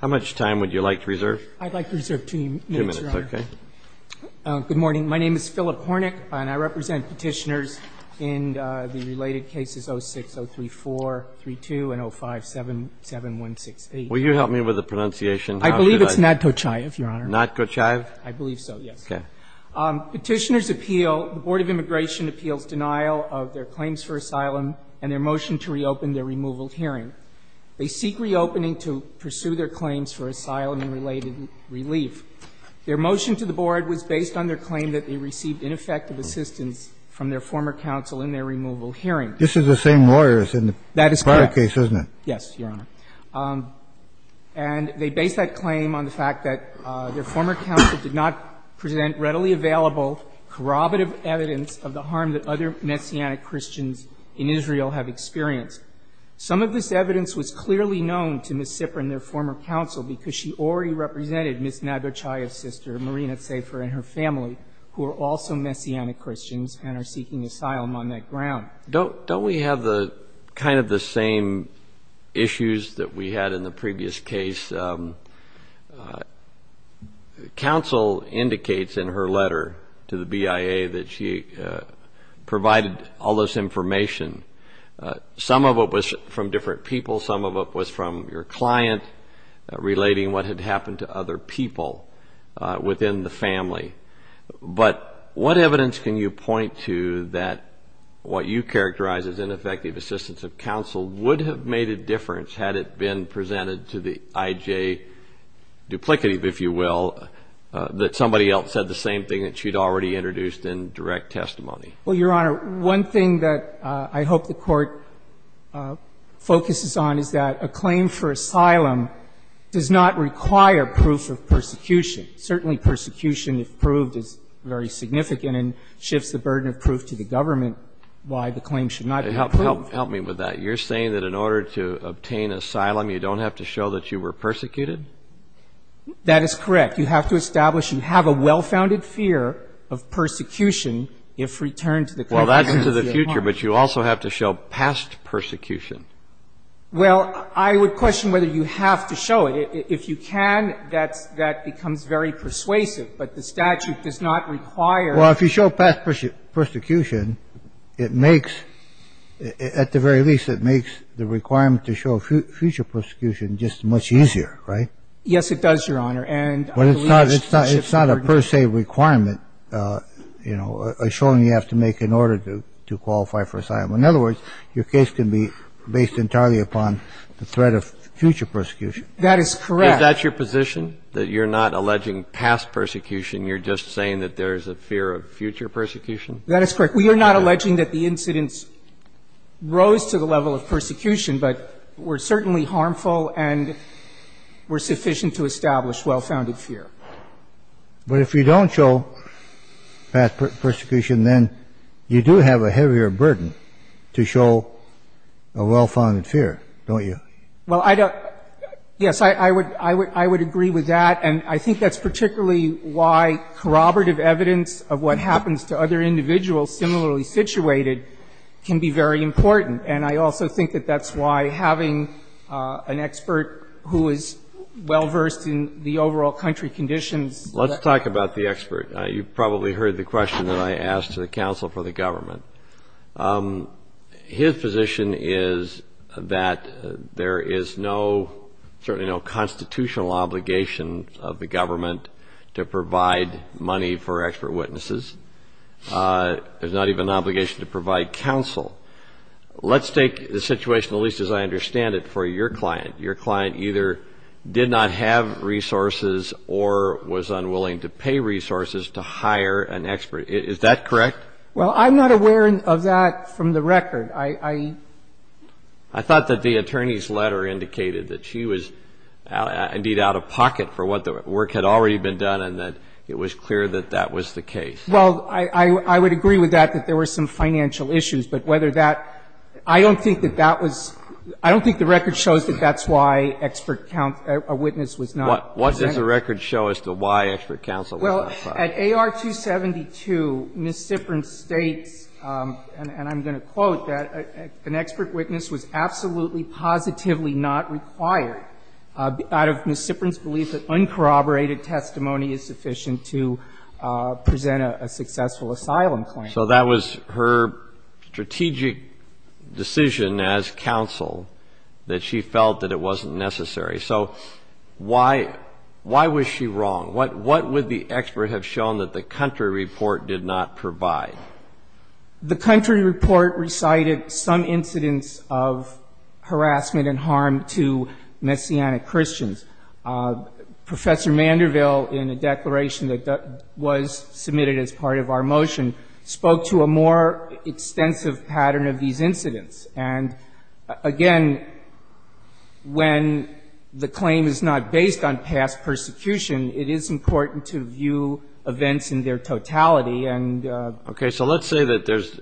How much time would you like to reserve? I'd like to reserve two minutes, Your Honor. Two minutes, okay. Good morning. My name is Philip Hornick, and I represent petitioners in the related cases 06-034-32 and 05-77168. Will you help me with the pronunciation? I believe it's Natkochaev, Your Honor. Natkochaev? I believe so, yes. Okay. Petitioners appeal, the Board of Immigration appeals denial of their claims for asylum and their motion to reopen their removal hearing. They seek reopening to pursue their claims for asylum and related relief. Their motion to the Board was based on their claim that they received ineffective assistance from their former counsel in their removal hearing. This is the same lawyers in the prior case, isn't it? That is correct. Yes, Your Honor. And they base that claim on the fact that their former counsel did not present readily available corroborative evidence of the harm that other Messianic Christians in Israel have experienced. Some of this evidence was clearly known to Ms. Sipper and their former counsel because she already represented Ms. Natkochaev's sister, Marina Safer, and her family, who are also Messianic Christians and are seeking asylum on that ground. Don't we have the kind of the same issues that we had in the previous case? Counsel indicates in her letter to the BIA that she provided all this information. Some of it was from different people. Some of it was from your client relating what had happened to other people within the family. But what evidence can you point to that what you characterize as ineffective assistance of counsel would have made a difference had it been presented to the IJ duplicative, if you will, that somebody else said the same thing that she'd already introduced in direct testimony? Well, Your Honor, one thing that I hope the Court focuses on is that a claim for asylum does not require proof of persecution. Certainly, persecution, if proved, is very significant and shifts the burden of proof to the government why the claim should not be proved. Help me with that. You're saying that in order to obtain asylum, you don't have to show that you were persecuted? That is correct. You have to establish you have a well-founded fear of persecution if returned to the court. Well, that's to the future, but you also have to show past persecution. Well, I would question whether you have to show it. If you can, that's that becomes very persuasive. But the statute does not require. Well, if you show past persecution, it makes, at the very least, it makes the requirement to show future persecution just much easier, right? Yes, it does, Your Honor. And I believe it shifts the burden. But it's not a per se requirement, you know, a showing you have to make in order to qualify for asylum. In other words, your case can be based entirely upon the threat of future persecution. That is correct. Is that your position, that you're not alleging past persecution? You're just saying that there's a fear of future persecution? That is correct. We are not alleging that the incidents rose to the level of persecution, but were But if you don't show past persecution, then you do have a heavier burden to show a well-founded fear, don't you? Well, I don't. Yes, I would agree with that. And I think that's particularly why corroborative evidence of what happens to other individuals similarly situated can be very important. And I also think that that's why having an expert who is well-versed in the overall country conditions. Let's talk about the expert. You probably heard the question that I asked to the counsel for the government. His position is that there is no, certainly no constitutional obligation of the government to provide money for expert witnesses. There's not even an obligation to provide counsel. Let's take the situation, at least as I understand it, for your client. Your client either did not have resources or was unwilling to pay resources to hire an expert. Is that correct? Well, I'm not aware of that from the record. I thought that the attorney's letter indicated that she was indeed out of pocket for what the work had already been done and that it was clear that that was the case. Well, I would agree with that, that there were some financial issues. But whether that — I don't think that that was — I don't think the record shows that that's why expert witness was not provided. What does the record show as to why expert counsel was not provided? Well, at AR 272, Ms. Siprin states, and I'm going to quote, that an expert witness was absolutely positively not required out of Ms. Siprin's belief that uncorroborated testimony is sufficient to present a successful asylum claim. So that was her strategic decision as counsel, that she felt that it wasn't necessary. So why was she wrong? What would the expert have shown that the country report did not provide? The country report recited some incidents of harassment and harm to Messianic Christians. Professor Manderville, in a declaration that was submitted as part of our motion, spoke to a more extensive pattern of these incidents. And, again, when the claim is not based on past persecution, it is important to view events in their totality and — Okay. So let's say that there's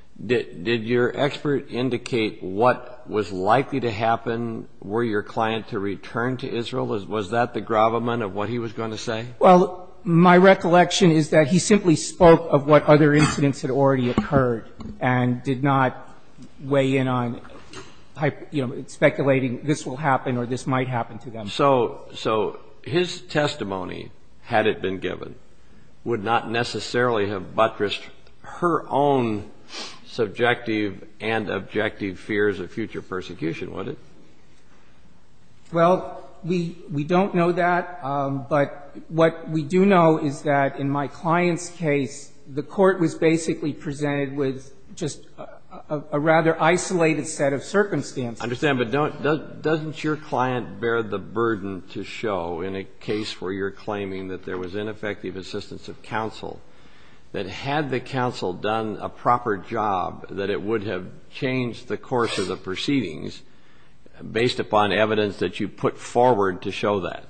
— did your expert indicate what was likely to happen? Were your client to return to Israel? Was that the gravamen of what he was going to say? Well, my recollection is that he simply spoke of what other incidents had already occurred and did not weigh in on speculating this will happen or this might happen to them. So his testimony, had it been given, would not necessarily have buttressed her own subjective and objective fears of future persecution, would it? Well, we don't know that, but what we do know is that in my client's case, the Court was basically presented with just a rather isolated set of circumstances. I understand. But don't — doesn't your client bear the burden to show in a case where you're claiming that there was ineffective assistance of counsel, that had the counsel done a proper job, that it would have changed the course of the proceedings based upon evidence that you put forward to show that?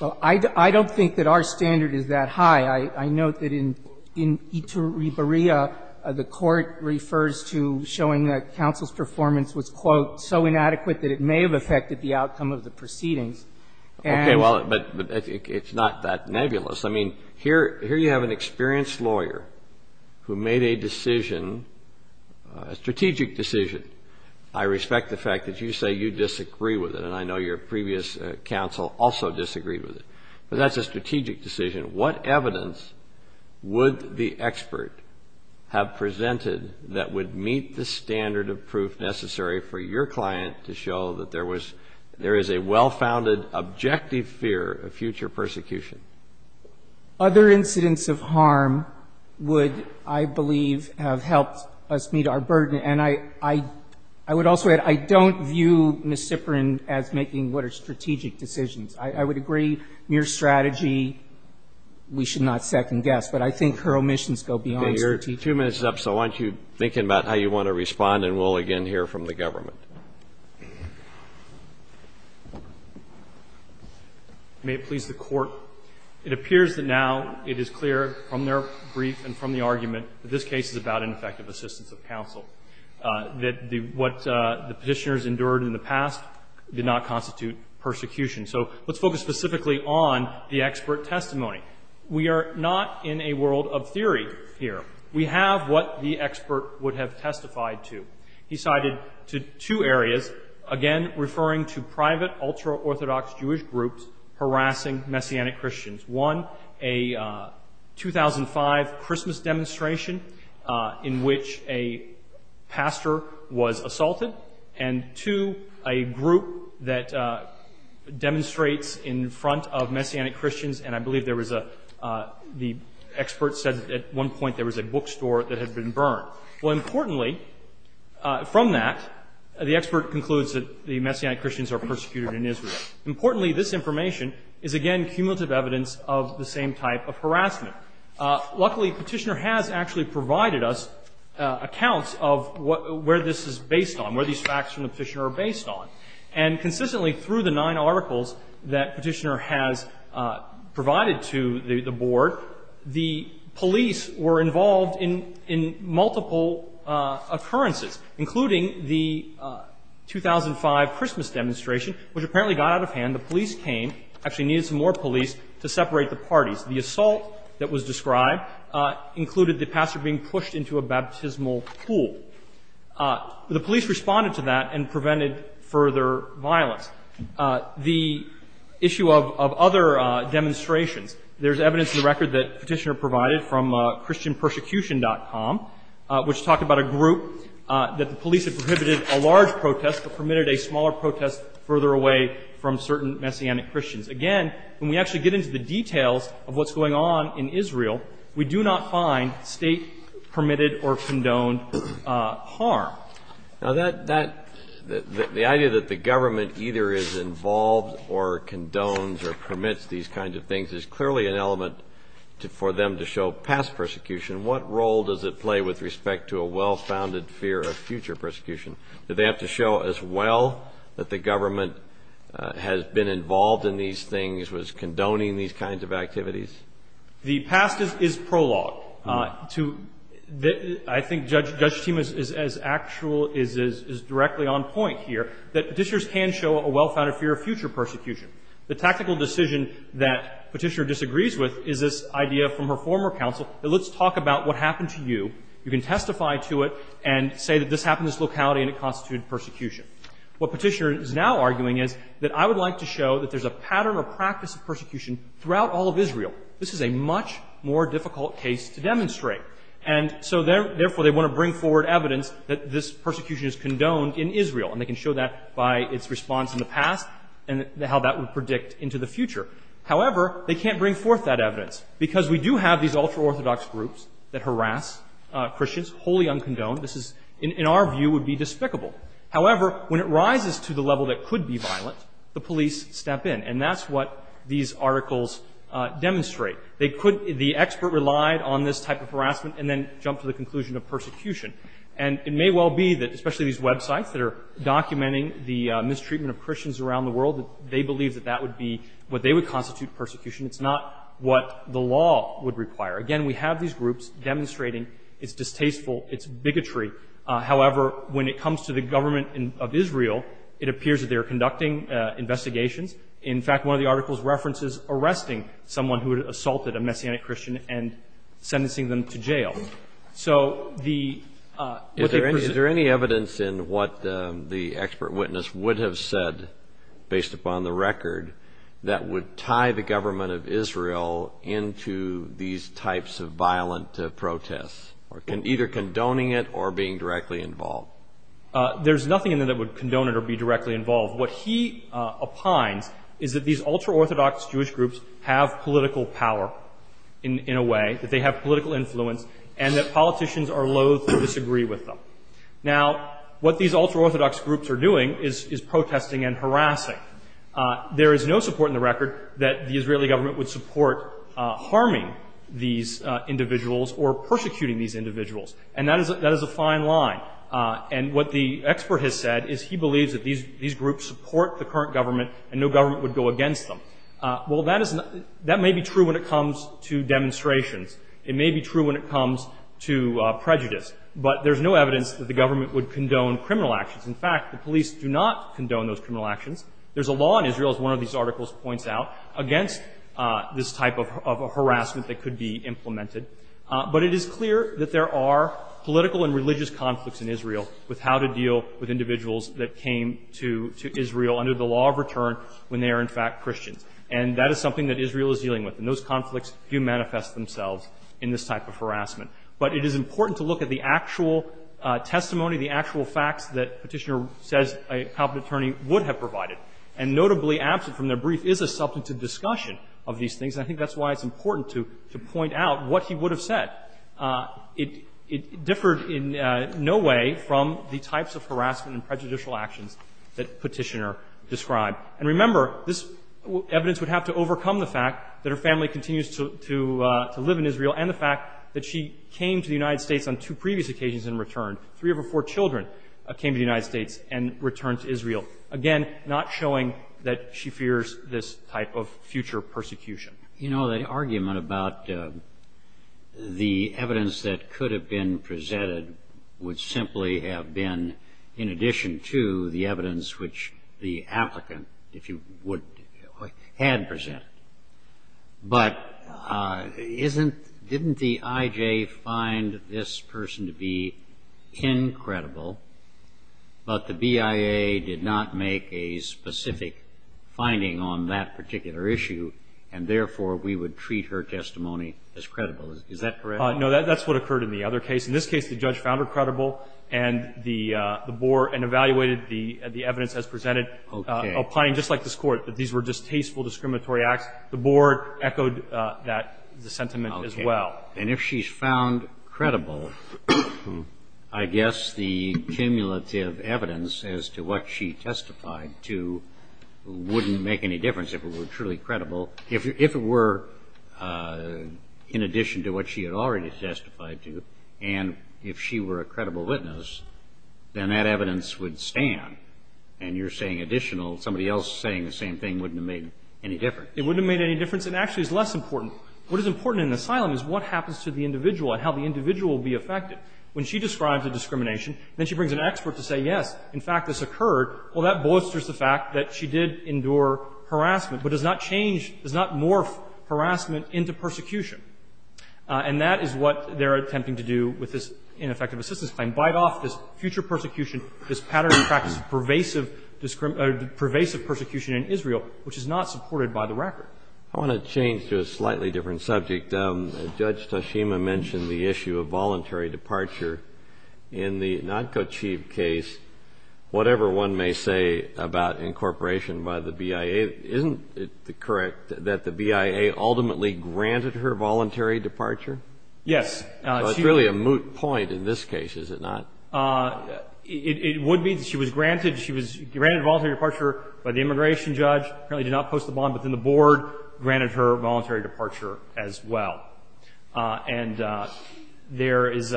Well, I don't think that our standard is that high. I note that in Iturribarilla, the Court refers to showing that counsel's performance was, quote, so inadequate that it may have affected the outcome of the proceedings. And — Well, but it's not that nebulous. I mean, here you have an experienced lawyer who made a decision, a strategic decision. I respect the fact that you say you disagree with it, and I know your previous counsel also disagreed with it. But that's a strategic decision. What evidence would the expert have presented that would meet the standard of proof necessary for your client to show that there was — there is a well-founded objective fear of future persecution? Other incidents of harm would, I believe, have helped us meet our burden. And I would also add, I don't view Ms. Ziprin as making what are strategic decisions. I would agree, mere strategy, we should not second-guess. But I think her omissions go beyond strategic. Okay. Your two minutes is up, so why don't you think about how you want to respond, and we'll again hear from the government. May it please the Court. It appears that now it is clear from their brief and from the argument that this case is about ineffective assistance of counsel, that what the Petitioners endured in the past did not constitute persecution. So let's focus specifically on the expert testimony. We are not in a world of theory here. We have what the expert would have testified to. He cited two areas, again referring to private, ultra-Orthodox Jewish groups harassing Messianic Christians. One, a 2005 Christmas demonstration in which a pastor was assaulted. And two, a group that demonstrates in front of Messianic Christians, and I believe there was a — the expert said at one point there was a bookstore that had been burned. Well, importantly, from that, the expert concludes that the Messianic Christians are persecuted in Israel. Importantly, this information is, again, cumulative evidence of the same type of harassment. Luckily, Petitioner has actually provided us accounts of where this is based on, where these facts from the Petitioner are based on. And consistently through the nine articles that Petitioner has provided to the board, the police were involved in multiple occurrences, including the 2005 Christmas demonstration, which apparently got out of hand. The police came, actually needed some more police to separate the parties. The assault that was described included the pastor being pushed into a baptismal pool. The police responded to that and prevented further violence. The issue of other demonstrations, there's evidence in the record that Petitioner provided from Christianpersecution.com, which talked about a group that the police had prohibited a large protest but permitted a smaller protest further away from certain Messianic Christians. Again, when we actually get into the details of what's going on in Israel, we do not find State-permitted or condoned harm. The idea that the government either is involved or condones or permits these kinds of things is clearly an element for them to show past persecution. What role does it play with respect to a well-founded fear of future persecution? Do they have to show as well that the government has been involved in these things, was condoning these kinds of activities? The past is prologue. To the — I think Judge Teema is as actual, is directly on point here, that Petitioners can show a well-founded fear of future persecution. The tactical decision that Petitioner disagrees with is this idea from her former counsel that let's talk about what happened to you. You can testify to it and say that this happened in this locality and it constituted persecution. What Petitioner is now arguing is that I would like to show that there's a pattern or practice of persecution throughout all of Israel. This is a much more difficult case to demonstrate. And so therefore, they want to bring forward evidence that this persecution is condoned in Israel. And they can show that by its response in the past and how that would predict into the future. However, they can't bring forth that evidence because we do have these ultra-Orthodox groups that harass Christians, wholly uncondoned. This is, in our view, would be despicable. However, when it rises to the level that could be violent, the police step in. And that's what these articles demonstrate. The expert relied on this type of harassment and then jumped to the conclusion of persecution. And it may well be that, especially these websites that are documenting the mistreatment of Christians around the world, that they believe that that would be what they would constitute persecution. It's not what the law would require. Again, we have these groups demonstrating its distasteful, its bigotry. However, when it comes to the government of Israel, it appears that they are In fact, one of the articles references arresting someone who had assaulted a Messianic Christian and sentencing them to jail. Is there any evidence in what the expert witness would have said, based upon the record, that would tie the government of Israel into these types of violent protests, either condoning it or being directly involved? There's nothing in there that would condone it or be directly involved. What he opines is that these ultra-Orthodox Jewish groups have political power in a way, that they have political influence, and that politicians are loath to disagree with them. Now, what these ultra-Orthodox groups are doing is protesting and harassing. There is no support in the record that the Israeli government would support harming these individuals or persecuting these individuals. And that is a fine line. And what the expert has said is he believes that these groups support the current government and no government would go against them. Well, that may be true when it comes to demonstrations. It may be true when it comes to prejudice. But there's no evidence that the government would condone criminal actions. In fact, the police do not condone those criminal actions. There's a law in Israel, as one of these articles points out, against this type of harassment that could be implemented. But it is clear that there are political and religious conflicts in Israel with how to deal with individuals that came to Israel under the law of return when they are, in fact, Christians. And that is something that Israel is dealing with. And those conflicts do manifest themselves in this type of harassment. But it is important to look at the actual testimony, the actual facts that Petitioner says a competent attorney would have provided. And notably, absent from their brief, is a substantive discussion of these things. And I think that's why it's important to point out what he would have said. It differed in no way from the types of harassment and prejudicial actions that Petitioner described. And remember, this evidence would have to overcome the fact that her family continues to live in Israel and the fact that she came to the United States on two previous occasions in return. Three of her four children came to the United States and returned to Israel, again, not showing that she fears this type of future persecution. You know, the argument about the evidence that could have been presented would simply have been in addition to the evidence which the applicant, if you would, had presented. But didn't the I.J. find this person to be incredible, but the BIA did not make a specific finding on that particular issue, and therefore we would treat her testimony as credible. Is that correct? No. That's what occurred in the other case. In this case, the judge found her credible and the board and evaluated the evidence as presented. Okay. Applying just like this Court, that these were just tasteful discriminatory acts. The board echoed that sentiment as well. Okay. And if she's found credible, I guess the cumulative evidence as to what she testified to wouldn't make any difference if it were truly credible, if it were in addition to what she had already testified to, and if she were a credible witness, then that evidence would stand. And you're saying additional, somebody else saying the same thing wouldn't have made any difference. It wouldn't have made any difference. It actually is less important. What is important in an asylum is what happens to the individual and how the individual will be affected. When she describes a discrimination, then she brings an expert to say, yes, in fact this occurred. Well, that bolsters the fact that she did endure harassment, but does not change or does not morph harassment into persecution. And that is what they're attempting to do with this ineffective assistance claim, bite off this future persecution, this pattern and practice of pervasive persecution in Israel, which is not supported by the record. I want to change to a slightly different subject. Judge Toshima mentioned the issue of voluntary departure. In the Nadko Chief case, whatever one may say about incorporation by the BIA, isn't it correct that the BIA ultimately granted her voluntary departure? Yes. Well, it's really a moot point in this case, is it not? It would be. She was granted. She was granted a voluntary departure by the immigration judge, apparently did not post the bond within the board, granted her voluntary departure as well. And there is,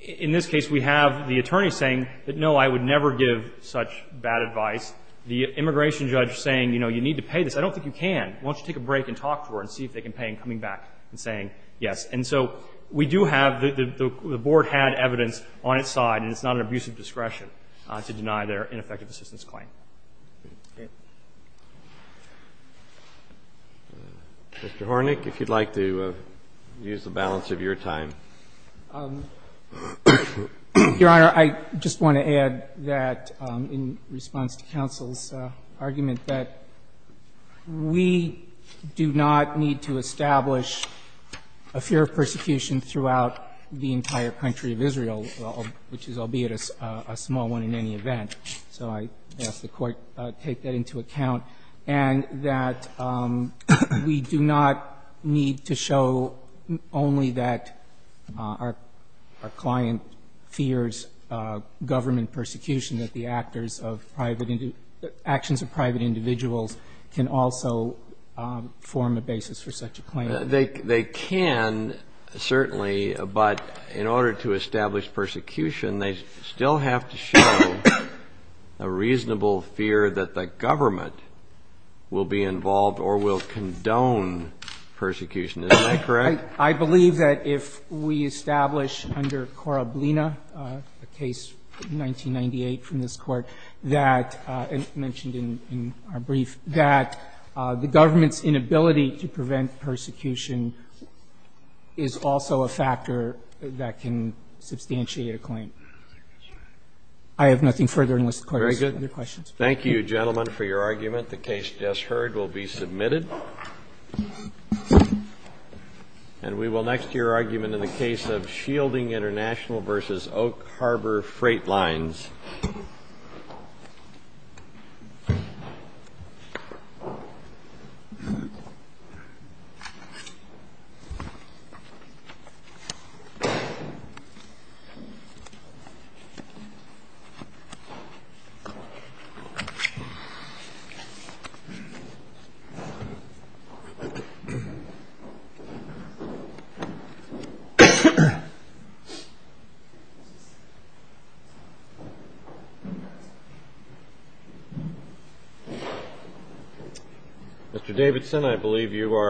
in this case, we have the attorney saying that, no, I would never give such bad advice. The immigration judge saying, you know, you need to pay this. I don't think you can. Why don't you take a break and talk to her and see if they can pay in coming back and saying yes. And so we do have, the board had evidence on its side, and it's not an abusive discretion to deny their ineffective assistance claim. Okay. Mr. Hornick, if you'd like to use the balance of your time. Your Honor, I just want to add that in response to counsel's argument that we do not need to establish a fear of persecution throughout the entire country of Israel, which is albeit a small one in any event. So I ask the Court to take that into account. And that we do not need to show only that our client fears government persecution, that the actors of private, actions of private individuals can also form a basis for such a claim. They can, certainly, but in order to establish persecution, they still have to show a reasonable fear that the government will be involved or will condone persecution. Isn't that correct? I believe that if we establish under Koroblina, a case from 1998 from this Court, that, and mentioned in our brief, that the government's inability to prevent persecution is also a factor that can substantiate a claim. I have nothing further. Mr. Carter, do you have any other questions? Thank you, gentlemen, for your argument. The case just heard will be submitted. And we will next hear your argument in the case of Shielding International v. Oak Harbor Freight Lines. Thank you. Mr. Davidson, I believe you are.